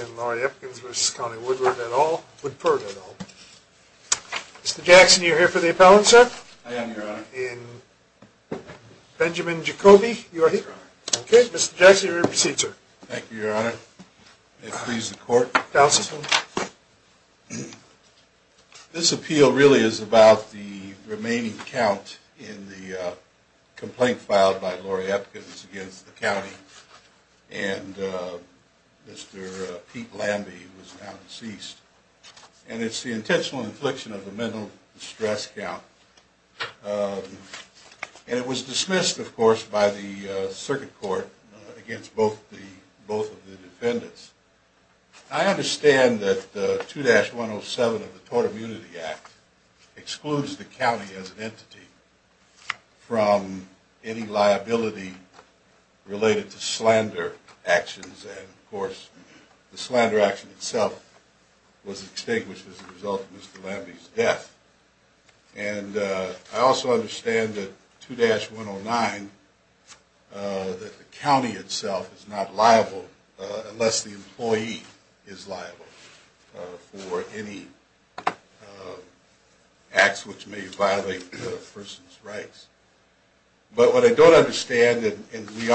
and Lori Epkins v. Connie Woodford et al. Mr. Jackson, you are here for the appellant, sir? I am, Your Honor. Benjamin Jacoby, you are here? Yes, Your Honor. Okay, Mr. Jackson, please proceed, sir. Thank you, Your Honor. May it please the court. This appeal really is about the remaining count in the complaint filed by Lori Epkins against the county, and Mr. Pete Lambie, who is now deceased. And it's the intentional infliction of a mental distress count. And it was dismissed, of course, by the circuit court against both the, both of the defendants. I understand that 2-107 of the Tort Immunity Act excludes the county as an entity from any liability related to slander actions, and of course, the slander action itself was extinguished as a result of Mr. Lambie's death. And I also understand that 2-109, that the county itself is not liable unless the employee is liable for any acts which may violate a person's rights. But what I don't understand, and we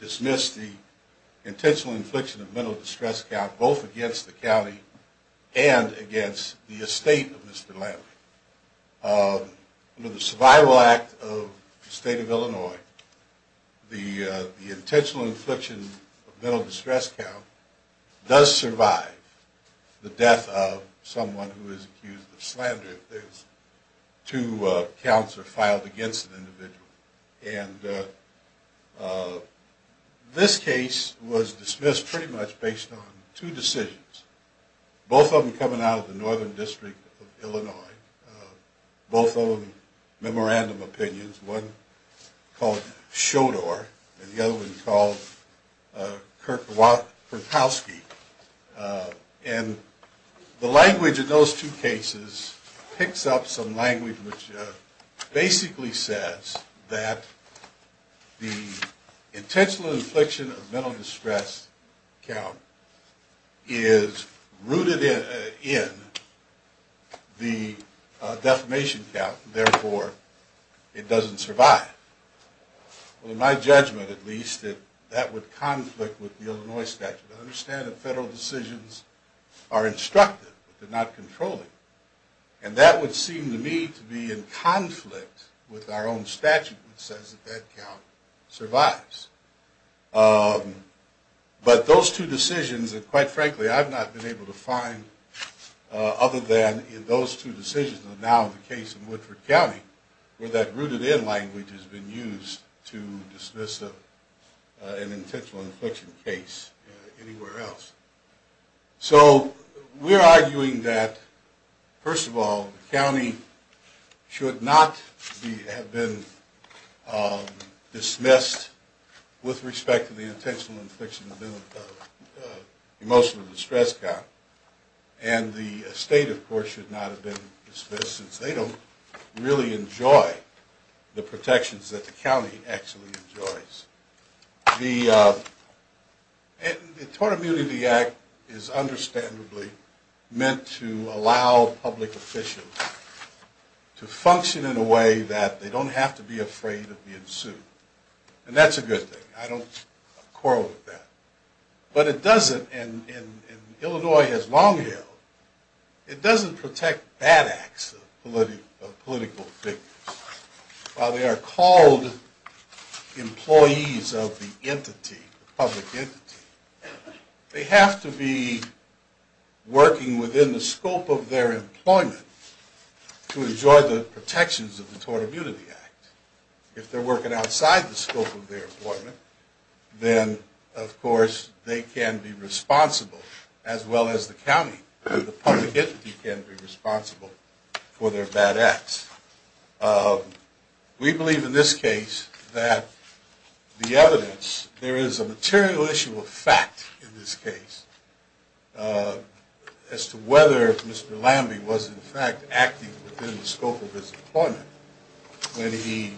dismissed the intentional infliction of mental distress count both against the county and against the estate of Mr. Lambie. Under the Survival Act of the State of Illinois, the intentional infliction of mental distress count does survive the death of someone who This case was dismissed pretty much based on two decisions, both of them coming out of the Northern District of Illinois, both of them memorandum opinions. One called Schodor, and the other one called Kertowski. And the language in those two cases picks up some that the intentional infliction of mental distress count is rooted in the defamation count, therefore, it doesn't survive. Well, in my judgment at least, that would conflict with the Illinois statute. I understand that federal decisions are instructive, but they're not controlling. And that would seem to me to be in conflict with our own statute, which says that that count survives. But those two decisions, and quite frankly, I've not been able to find other than in those two decisions of now the case in Woodford County, where that rooted in language has been used to dismiss an intentional infliction case anywhere else. So we're arguing that, first of all, the county should not have been dismissed with respect to the intentional infliction of emotional distress count. And the state, of course, should not have been dismissed since they don't really enjoy the protections that the county actually is understandably meant to allow public officials to function in a way that they don't have to be afraid of being sued. And that's a good thing. I don't quarrel with that. But it doesn't, and Illinois has long held, it doesn't protect bad acts of political victims. While they are called employees of the entity, the public entity, they have to be working within the scope of their employment to enjoy the protections of the Tort Immunity Act. If they're working outside the scope of their employment, then, of course, they can be responsible, as well as the county, the public entity can be responsible for their bad acts. We believe in this case that the evidence, there is a material issue of fact in this case as to whether Mr. Lamby was, in fact, acting within the scope of his employment when he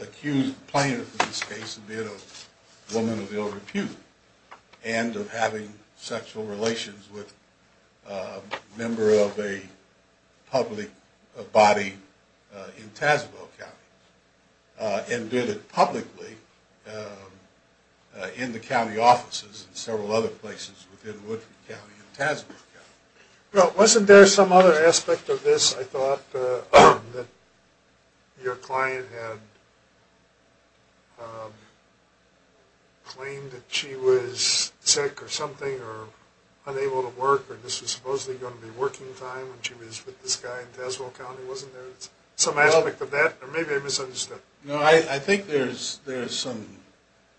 accused the plaintiff in of ill repute and of having sexual relations with a member of a public body in Tazewell County, and did it publicly in the county offices and several other places within Woodford County and Tazewell County. Well, wasn't there some other aspect of this, I thought, that your client had claimed that she was sick or something or unable to work or this was supposedly going to be working time when she was with this guy in Tazewell County? Wasn't there some aspect of that? Or maybe I misunderstood. No, I think there's some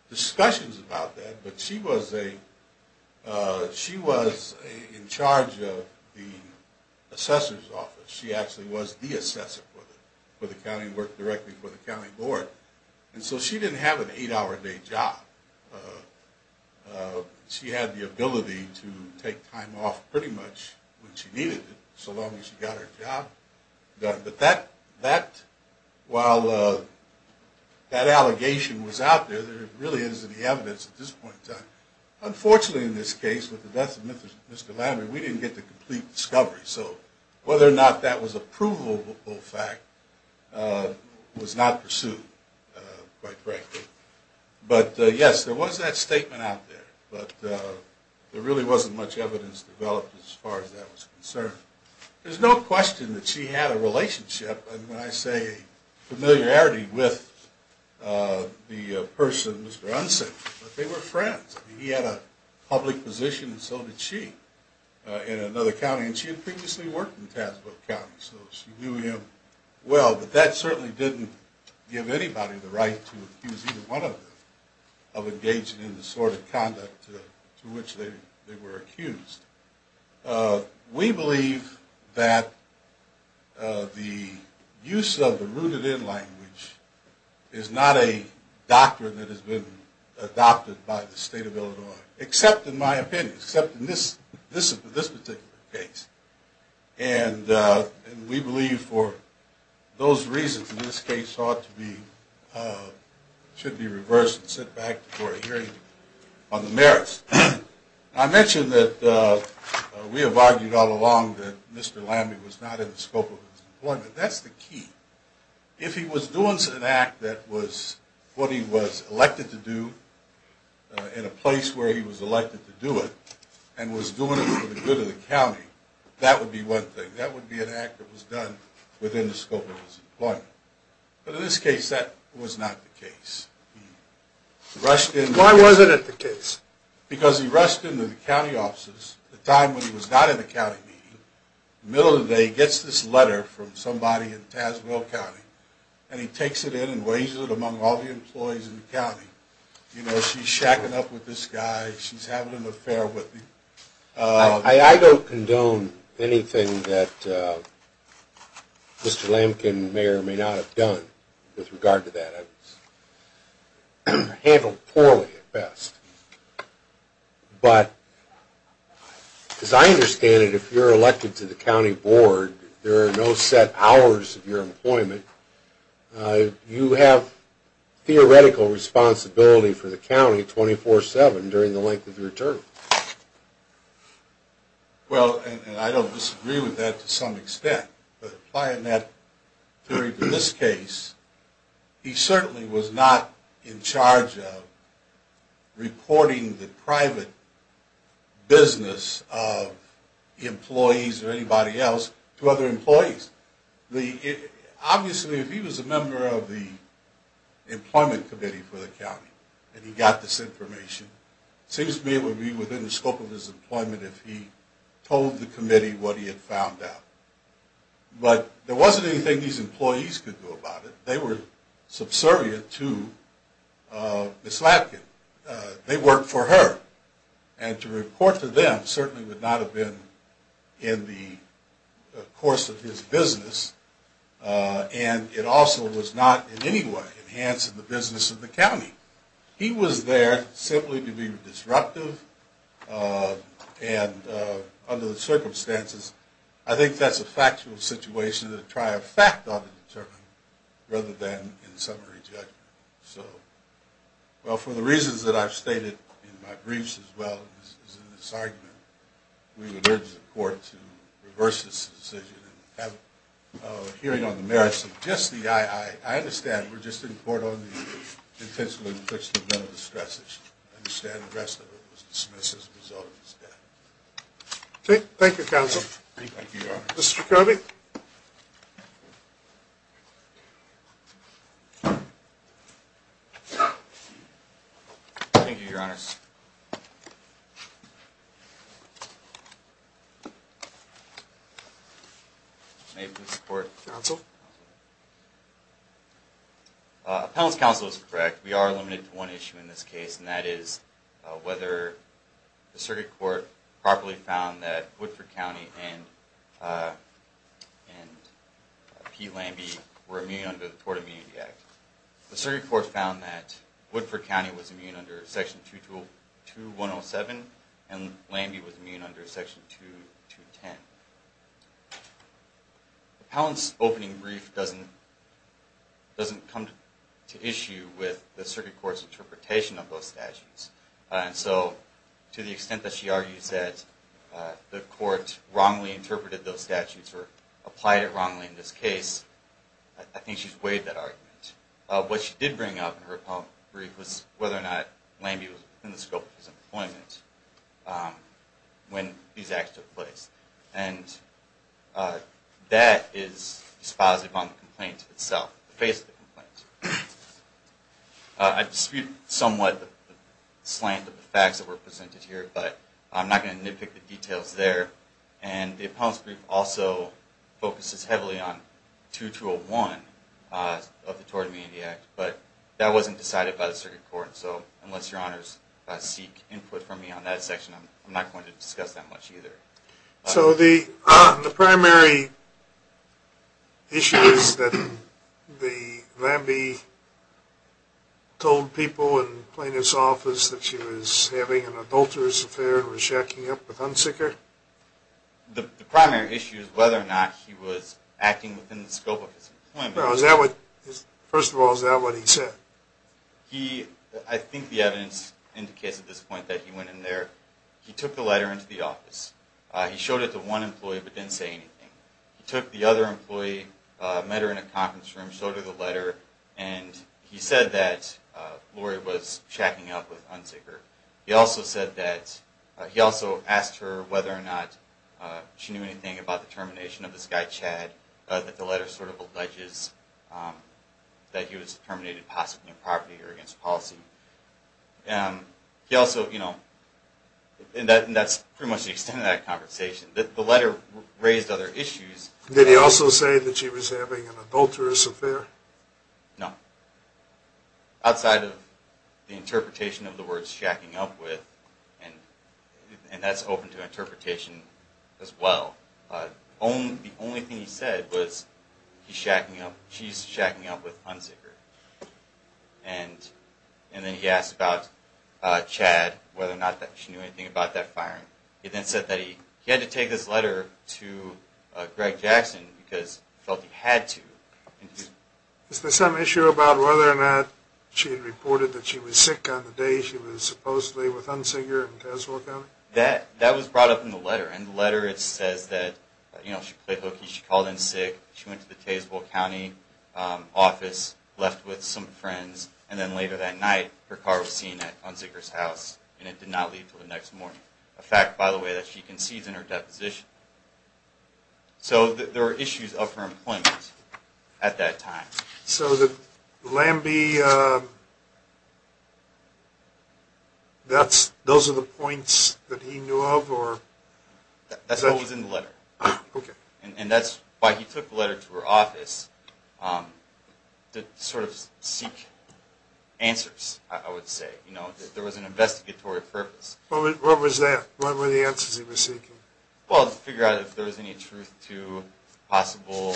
discussions about that, but she was in charge of the assessor's office. She actually was the assessor for the county, worked directly for the county board. And so she didn't have an eight-hour day job. She had the ability to take time off pretty much when she needed it, But that, while that allegation was out there, there really isn't any evidence at this point in time. Unfortunately, in this case, with the death of Mr. Lamby, we didn't get the complete discovery. So whether or not that was a provable fact was not pursued, quite frankly. But yes, there was that There's no question that she had a relationship, and when I say familiarity, with the person, Mr. Unson. But they were friends. He had a public position, and so did she, in another county. And she had previously worked in Tazewell County, so she knew him well. But that certainly didn't give anybody the right to accuse either one of them of engaging in the sort of conduct to which they were accused. We believe that the use of the rooted-in language is not a doctrine that has been adopted by the state of Illinois, except in my opinion, except in this particular case. And we believe for those reasons, in this case, should be reversed and sent back for a hearing on the merits. I mentioned that we have argued all along that Mr. Lamby was not in the scope of his employment. That's the key. If he was doing an act that was what he was elected to do, in a place where he was elected to do it, and was doing it for the good of the county, that would be one thing. That would be an act that was done within the scope of his employment. But in this case, that was not the case. He rushed in... Why wasn't it the case? Because he rushed into the county offices at a time when he was not in the county meeting. In the middle of the day, he gets this letter from somebody in Tazewell County, and he takes it in and weighs it among all the employees in the county. You know, she's shacking up with this guy. She's having an affair with him. I don't condone anything that Mr. Lambkin may or may not have done with regard to that. It was handled poorly at best. But as I understand it, if you're elected to the county board, there are no set hours of your employment. You have theoretical responsibility for the county 24-7 during the length of your term. Well, and I don't disagree with that to some extent, but applying that theory to this case, he certainly was not in charge of reporting the private business of employees or anybody else to other employees. Obviously, if he was a member of the employment committee for the county, and he got this information, it seems to me it would be within the scope of his employment if he told the committee what he had found out. But there wasn't anything these employees could do about it. They were subservient to Ms. Lambkin. They worked for her, and to report to them certainly would not have been in the course of his business, and it also was not in any way enhancing the business of the county. He was there simply to be disruptive, and under the circumstances, I think that's a factual situation to try a fact on the determinant rather than in summary judgment. So, well, for the reasons that I've stated in my briefs as well as in this argument, we would urge the court to reverse this decision and have a hearing on the merits of just the III. I understand we're just in court on the intentionally inflicted mental distress issue. I understand the rest of it was dismissed as a result of his death. Okay. Thank you, counsel. Thank you, Your Honor. Mr. Kirby. Thank you, Your Honor. May it please the court. Counsel. Appellant's counsel is correct. We are limited to one issue in this case, and that is whether the circuit court properly found that Woodford County and Pete Lambie were immune under the Tort Immunity Act. The circuit court found that Woodford County was immune under Section 2107, and Lambie was immune under Section 2210. Appellant's opening brief doesn't come to issue with the circuit court's interpretation of those statutes. And so to the extent that she argues that the court wrongly interpreted those statutes or applied it wrongly in this case, I think she's weighed that argument. What she did bring up in her brief was whether or not Lambie was within the scope of his employment when these acts took place. And that is dispositive on the complaint itself, the face of the complaint. I dispute somewhat the slant of the facts that were presented here, but I'm not going to nitpick the details there. And the appellant's brief also focuses heavily on 2201 of the Tort Immunity Act, but that wasn't decided by the circuit court. So unless your honors seek input from me on that section, I'm not going to discuss that much either. So the primary issue is that Lambie told people in plaintiff's office that she was having an adulterous affair and was shacking up with Hunsicker? The primary issue is whether or not he was acting within the scope of his employment. First of all, is that what he said? I think the evidence indicates at this point that he went in there. He took the letter into the office. He showed it to one employee but didn't say anything. He took the other employee, met her in a conference room, showed her the letter, and he said that Laurie was shacking up with Hunsicker. He also said that he also asked her whether or not she knew anything about the termination of this guy Chad, that the letter sort of alleges that he was terminated possibly of property or against policy. And that's pretty much the extent of that conversation. The letter raised other issues. Did he also say that she was having an adulterous affair? No. Outside of the interpretation of the words shacking up with, and that's open to interpretation as well, the only thing he said was he's shacking up, she's shacking up with Hunsicker. And then he asked about Chad, whether or not she knew anything about that firing. He then said that he had to take this letter to Greg Jackson because he felt he had to. Is there some issue about whether or not she reported that she was sick on the day she was supposedly with Hunsicker? That was brought up in the letter. In the letter it says that she played hooky, she called in sick, she went to the Tazewell County office, left with some friends, and then later that night her car was seen at Hunsicker's house, and it did not leave until the next morning. A fact, by the way, that she concedes in her deposition. So there were issues of her employment at that time. So the Lambie, those are the points that he knew of? That's what was in the letter. And that's why he took the letter to her office, to sort of seek answers, I would say. There was an investigatory purpose. What were the answers he was seeking? Well, to figure out if there was any truth to possible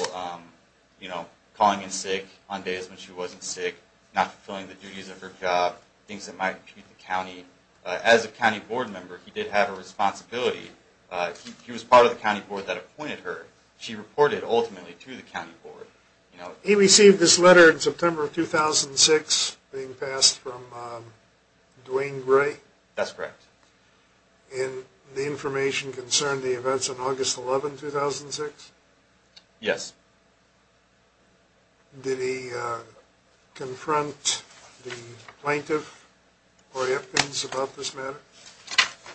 calling in sick on days when she wasn't sick, not fulfilling the duties of her job, things that might impede the county. As a county board member, he did have a responsibility. He was part of the county board that appointed her. She reported ultimately to the county board. He received this letter in September of 2006, being passed from Duane Gray? That's correct. And the information concerned the events of August 11, 2006? Yes. Did he confront the plaintiff or anything else about this matter?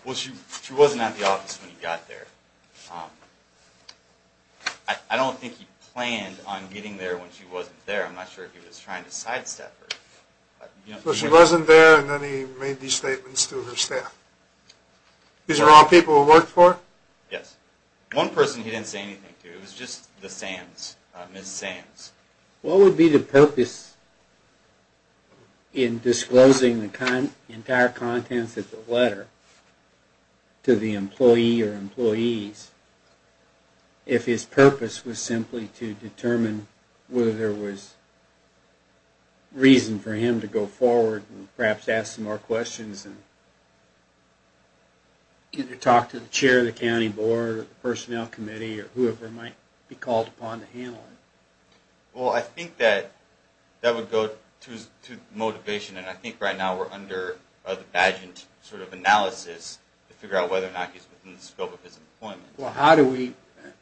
Well, she wasn't at the office when he got there. I don't think he planned on getting there when she wasn't there. I'm not sure if he was trying to sidestep her. So she wasn't there, and then he made these statements to her staff. These are all people who worked for her? Yes. One person he didn't say anything to. It was just Ms. Sands. What would be the purpose in disclosing the entire contents of the letter to the employee or employees if his purpose was simply to determine whether there was reason for him to go forward and perhaps ask some more questions and either talk to the chair of the county board, the personnel committee, or whoever might be called upon to handle it? Well, I think that that would go to motivation, and I think right now we're under the badged sort of analysis to figure out whether or not he's within the scope of his employment. Well, how do we,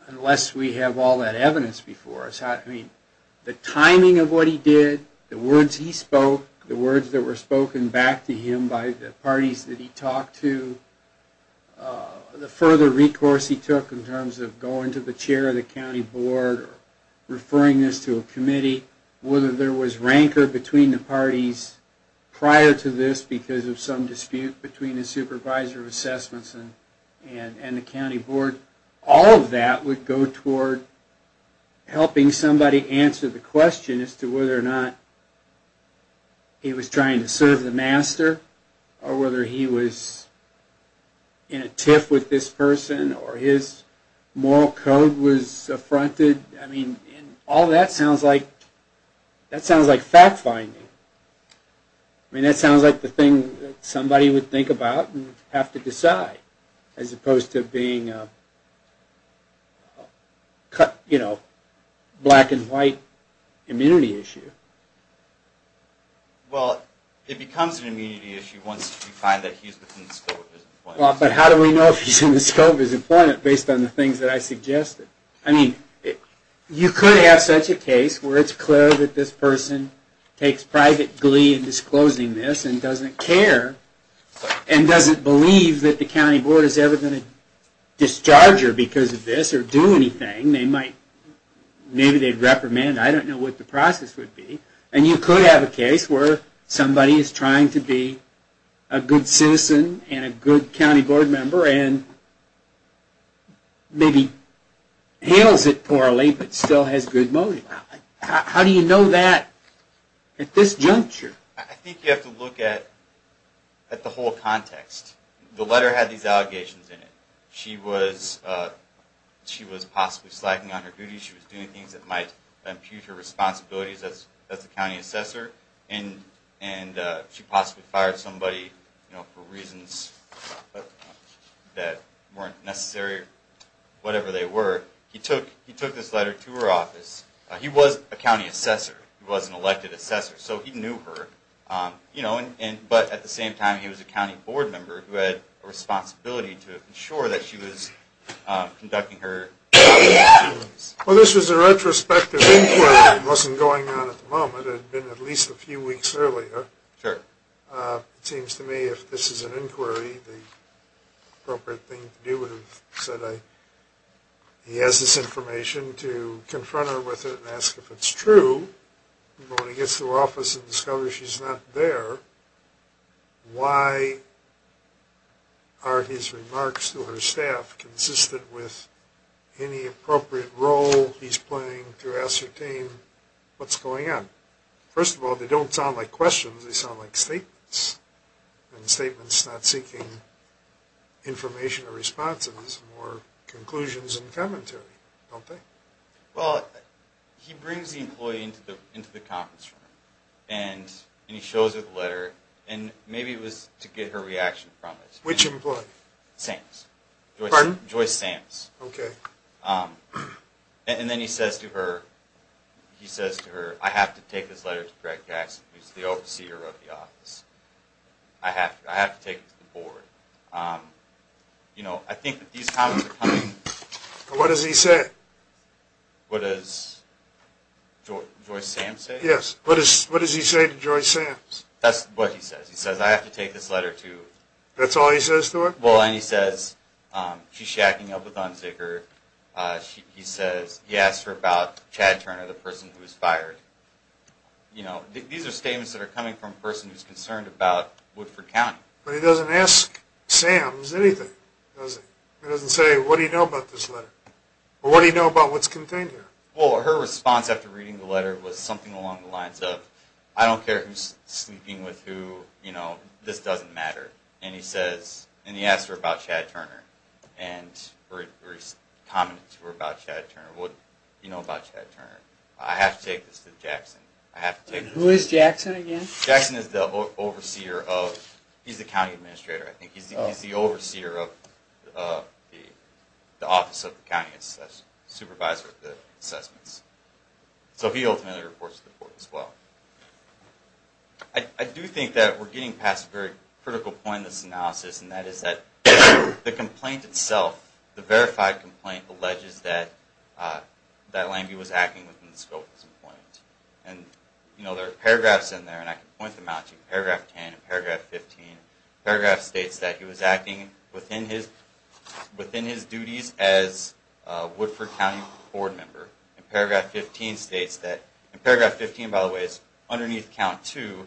unless we have all that evidence before us, I mean, the timing of what he did, the words he spoke, the words that were spoken back to him by the parties that he talked to, the further recourse he took in terms of going to the chair of the county board or referring this to a committee, whether there was rancor between the parties prior to this because of some dispute between the supervisor of assessments and the county board, all of that would go toward helping somebody answer the question as to whether or not he was trying to serve the master or whether he was in a tiff with this person or his moral code was affronted. I mean, all that sounds like fact-finding. I mean, that sounds like the thing that somebody would think about and have to decide as opposed to being a black and white immunity issue. Well, it becomes an immunity issue once you find that he's within the scope of his employment. Well, but how do we know if he's within the scope of his employment based on the things that I suggested? I mean, you could have such a case where it's clear that this person takes private glee in disclosing this and doesn't care and doesn't believe that the county board is ever going to discharge her because of this or do anything. Maybe they'd reprimand. I don't know what the process would be. And you could have a case where somebody is trying to be a good citizen and a good county board member and maybe handles it poorly but still has good motive. How do you know that at this juncture? I think you have to look at the whole context. The letter had these allegations in it. She was possibly slacking on her duties. She was doing things that might impugn her responsibilities as the county assessor. And she possibly fired somebody for reasons that weren't necessary or whatever they were. He took this letter to her office. He was a county assessor. He was an elected assessor, so he knew her. But at the same time, he was a county board member who had a responsibility to ensure that she was conducting her duties. So this was a retrospective inquiry. It wasn't going on at the moment. It had been at least a few weeks earlier. It seems to me if this is an inquiry, the appropriate thing to do would have said, he has this information to confront her with it and ask if it's true. But when he gets to her office and discovers she's not there, why are his remarks to her staff consistent with any appropriate role he's playing to ascertain what's going on? First of all, they don't sound like questions. They sound like statements, and statements not seeking information or responses or conclusions and commentary, don't they? Well, he brings the employee into the conference room, and he shows her the letter, and maybe it was to get her reaction from it. Which employee? Sams. Joyce Sams. And then he says to her, I have to take this letter to Greg Jackson, who's the overseer of the office. I have to take it to the board. I think that these comments are coming... What does he say? What does he say to Joyce Sams? That's what he says. He says, I have to take this letter to... That's all he says to her? Well, and he says, she's shacking up with Unzicker. He asks her about Chad Turner, the person who was fired. These are statements that are coming from a person who's concerned about Woodford County. But he doesn't ask Sams anything, does he? He doesn't say, what do you know about this letter, or what do you know about what's contained here? Well, her response after reading the letter was something along the lines of, I don't care who's sleeping with who, this doesn't matter. And he asks her about Chad Turner. What do you know about Chad Turner? I have to take this to Jackson. Who is Jackson, again? Jackson is the county administrator. He's the overseer of the office of the county supervisor of the assessments. So he ultimately reports to the board as well. I do think that we're getting past a very critical point in this analysis, and that is that the complaint itself, the verified complaint, alleges that in paragraph 10 and paragraph 15, the paragraph states that he was acting within his duties as a Woodford County board member. And paragraph 15 states that, and paragraph 15, by the way, is underneath count 2,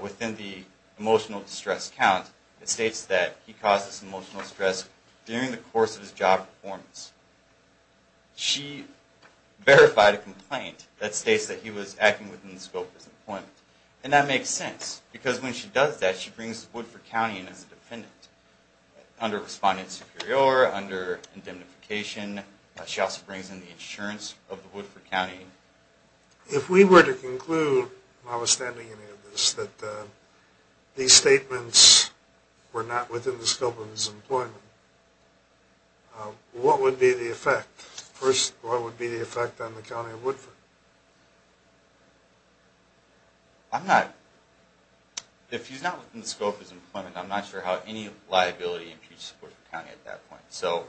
within the emotional distress count, it states that he caused this emotional stress during the course of his job performance. She verified a complaint that states that he was acting within the scope of his employment. And that makes sense, because when she does that, she brings the Woodford County in as a defendant, under respondent superior, under indemnification. She also brings in the insurance of the Woodford County. If we were to conclude, notwithstanding any of this, that these statements were not within the scope of his employment, what would be the effect? First, what would be the effect on the county of Woodford? I'm not, if he's not within the scope of his employment, I'm not sure how any liability imputes the support of the county at that point. So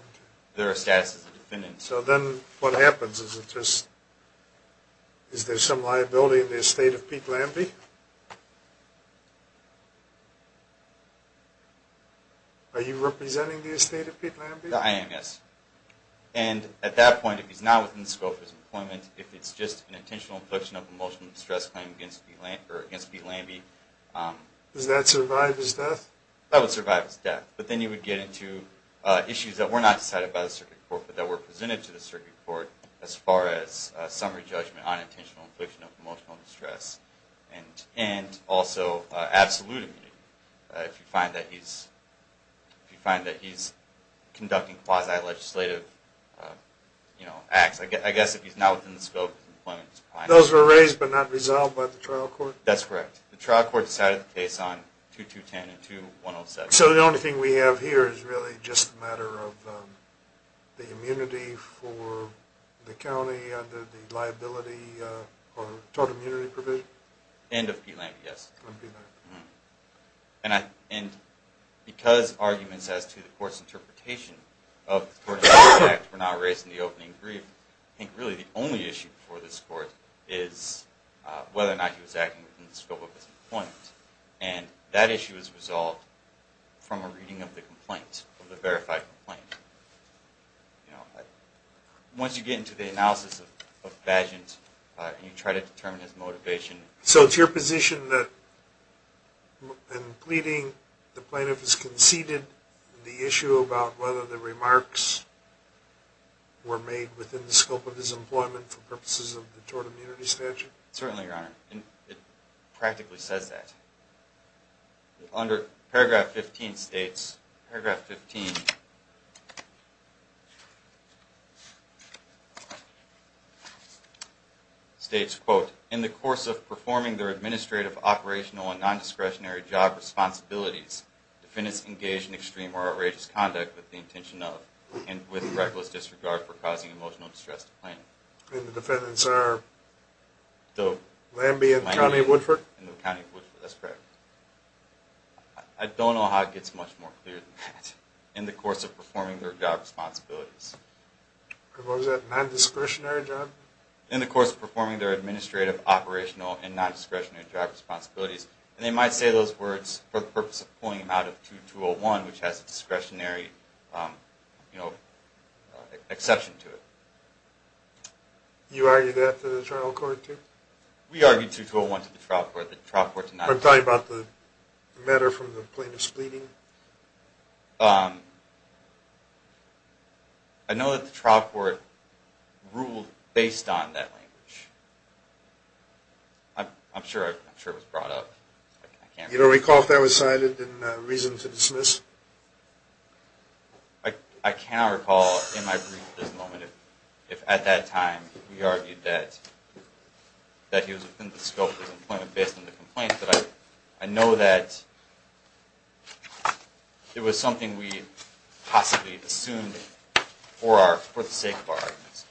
there are statuses of defendants. So then what happens? Is there some liability in the estate of Pete Lambie? Are you representing the estate of Pete Lambie? The IMS. And at that point, if he's not within the scope of his employment, if it's just an intentional infliction of an emotional distress claim against Pete Lambie. Does that survive his death? That would survive his death. But then you would get into issues that were not decided by the circuit court, but that were presented to the circuit court as far as summary judgment on intentional infliction of emotional distress. And also absolute immunity. If you find that he's conducting quasi-legislative acts. I guess if he's not within the scope of his employment. Those were raised but not resolved by the trial court? That's correct. The trial court decided the case on 2210 and 2107. So the only thing we have here is really just a matter of the immunity for the county under the liability or total immunity provision? And of Pete Lambie, yes. And because arguments as to the court's interpretation of the tortuous act were not raised in the opening brief, I think really the only issue before this court is whether or not he was acting within the scope of his employment. And that issue is resolved from a reading of the complaint. From the verified complaint. Once you get into the analysis of Badgent and you try to determine his motivation. So it's your position that in pleading the plaintiff has conceded the issue about whether the remarks were made within the scope of his employment for purposes of the tort immunity statute? Certainly, Your Honor. It practically says that. Under paragraph 15 states, quote, in the course of performing their administrative, operational, and non-discretionary job responsibilities, defendants engaged in extreme or outrageous conduct with the intention of and with reckless disregard for causing emotional distress to the plaintiff. And the defendants are Lambie and County Woodford? I don't know how it gets much more clear than that. In the course of performing their job responsibilities. What was that? Non-discretionary job? In the course of performing their administrative, operational, and non-discretionary job responsibilities. And they might say those words for the purpose of pulling him out of 2201, which has a discretionary exception to it. You argue that to the trial court too? We argued 2201 to the trial court. I'm talking about the matter from the plaintiff's pleading? I know that the trial court ruled based on that language. I'm sure it was brought up. You don't recall if that was cited in reason to dismiss? I cannot recall in my brief at this moment if at that time we argued that he was within the scope of his employment based on the complaint. But I know that it was something we possibly assumed for the sake of our arguments.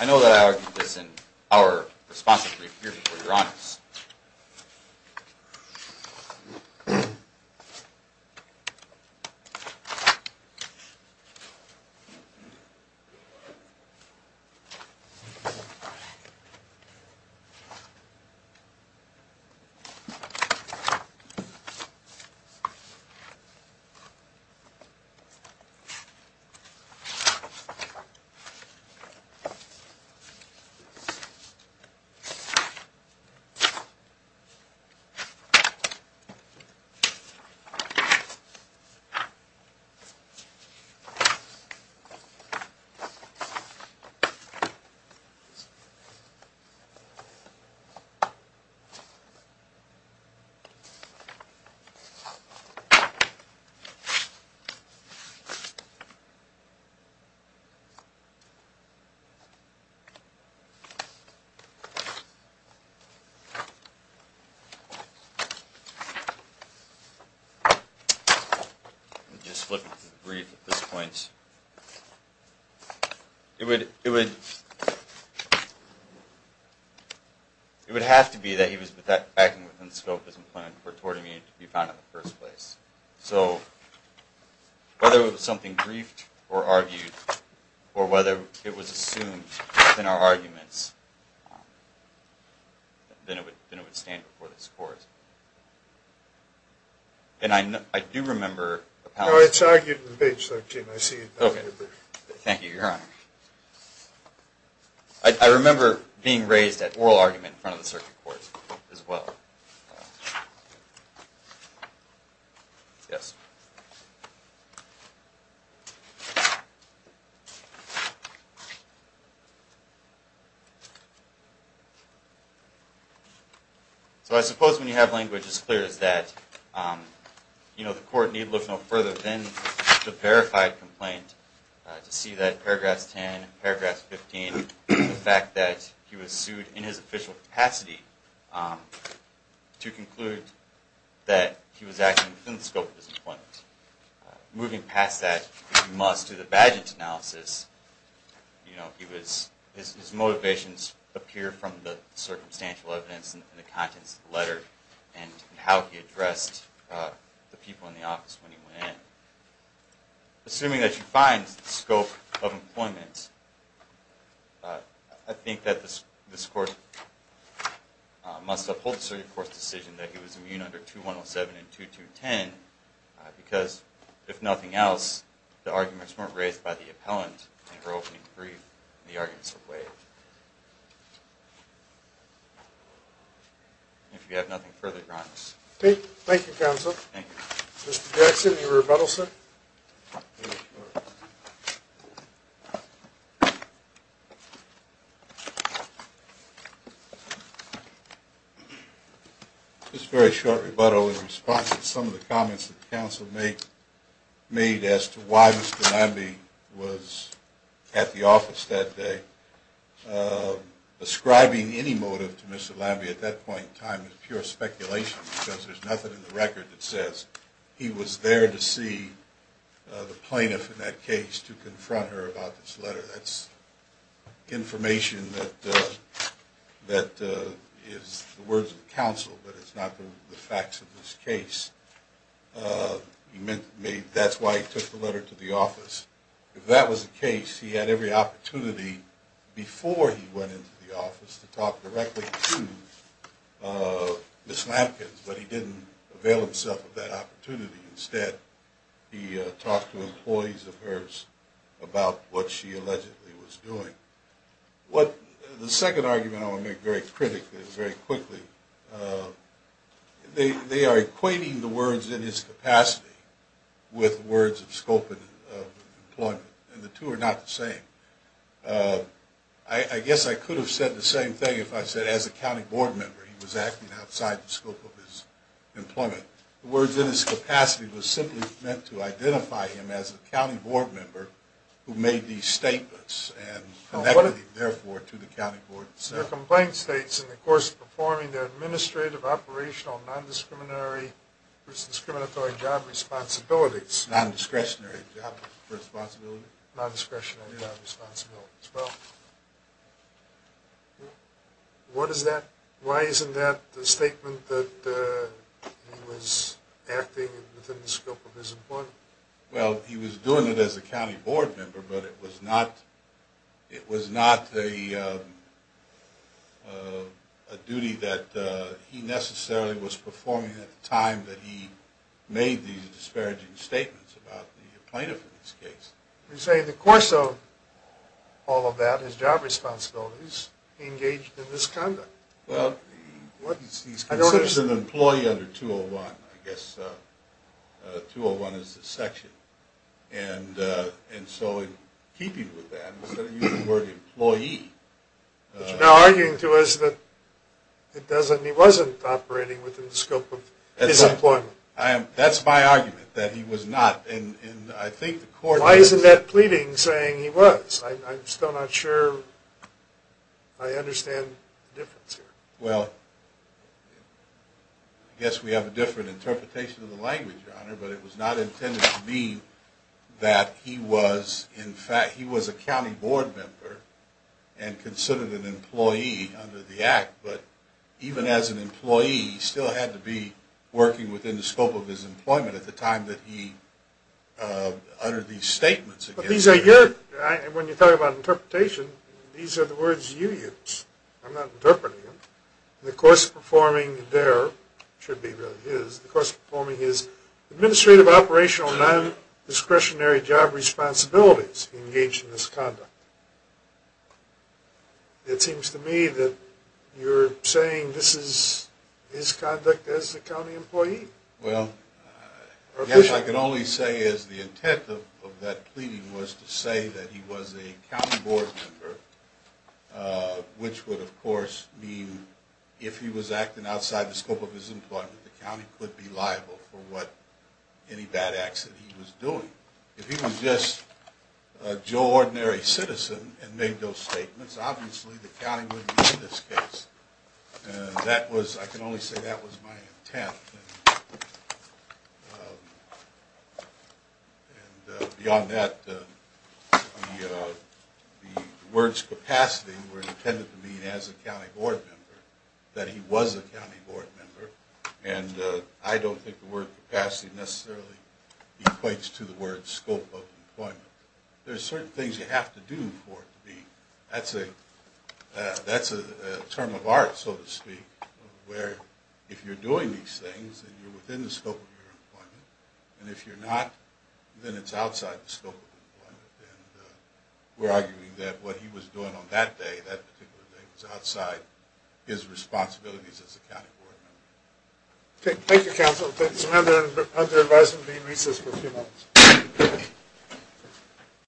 I know that I argued this in our responsive brief here before your honors. Thank you. I'm just flipping through the brief at this point. It would have to be that he was acting within the scope of his employment for tort immunity to be found in the first place. So whether it was something briefed or argued, or whether it was assumed within our arguments, then it would stand before this court. And I do remember appellate. No, it's argued in page 13. I see it in your brief. Thank you, your honor. I remember being raised at oral argument in front of the circuit court as well. So I suppose when you have language as clear as that, the court need look no further than the verified complaint to see that paragraph 10, paragraph 15, the fact that he was sued in his official capacity to conclude that he was acting within the scope of his employment. Moving past that, we must do the badgent analysis. His motivations appear from the circumstantial evidence in the contents of the letter and how he addressed the people in the office when he went in. Assuming that you find the scope of employment, I think that this court must uphold the circuit court's decision that he was immune under 2107 and 2210 because, if nothing else, the arguments weren't raised by the appellant in her opening brief. The arguments are waived. If you have nothing further, your honor. Thank you, counsel. Mr. Jackson, any rebuttal, sir? Just a very short rebuttal in response to some of the comments that the counsel made as to why Mr. Lambie was at the office that day. Ascribing any motive to Mr. Lambie at that point in time is pure speculation because there's nothing in the record that says he was there to see the plaintiff in that case to confront her about this letter. That's information that is the words of counsel, but it's not the facts of this case. That's why he took the letter to the office. If that was the case, he had every opportunity before he went into the office to talk directly to Ms. Lampkin, but he didn't avail himself of that opportunity. Instead, he talked to employees of hers about what she allegedly was doing. The second argument I want to make very quickly, they are equating the words in his capacity with words of scope of employment, and the two are not the same. I guess I could have said the same thing if I said as a county board member he was acting outside the scope of his employment. The words in his capacity were simply meant to identify him as a county board member who made these statements and connected him, therefore, to the county board. The complaint states, in the course of performing their administrative, operational, non-discriminatory job responsibilities. Non-discretionary job responsibilities. Why isn't that the statement that he was acting within the scope of his employment? Well, he was doing it as a county board member, but it was not a duty that he necessarily was performing at the time that he made these disparaging statements about the plaintiff in this case. You say in the course of all of that, his job responsibilities, he engaged in misconduct. Well, he's considered an employee under 201, I guess. 201 is the section, and so in keeping with that, instead of using the word employee... Which you're now arguing to us that he wasn't operating within the scope of his employment. That's my argument, that he was not. Why isn't that pleading saying he was? I'm still not sure I understand the difference here. Well, I guess we have a different interpretation of the language, Your Honor, but it was not intended to mean that he was a county board member and considered an employee under the act. But even as an employee, he still had to be working within the scope of his employment at the time that he uttered these statements. When you talk about interpretation, these are the words you use. I'm not interpreting them. In the course of performing his administrative operational non-discretionary job responsibilities, he engaged in misconduct. It seems to me that you're saying this is his conduct as a county employee. Well, I guess I can only say the intent of that pleading was to say that he was a county board member, which would, of course, mean if he was acting outside the scope of his employment, the county could be liable for any bad acts that he was doing. If he was just a joe ordinary citizen and made those statements, obviously the county wouldn't be in this case. I can only say that was my intent. Beyond that, the words capacity were intended to mean as a county board member that he was a county board member. I don't think the word capacity necessarily equates to the word scope of employment. There are certain things you have to do for it to be. That's a term of art, so to speak, where if you're doing these things and you're within the scope of your employment, and if you're not, then it's outside the scope of your employment. We're arguing that what he was doing on that particular day was outside his responsibilities as a county board member. Thank you, counsel.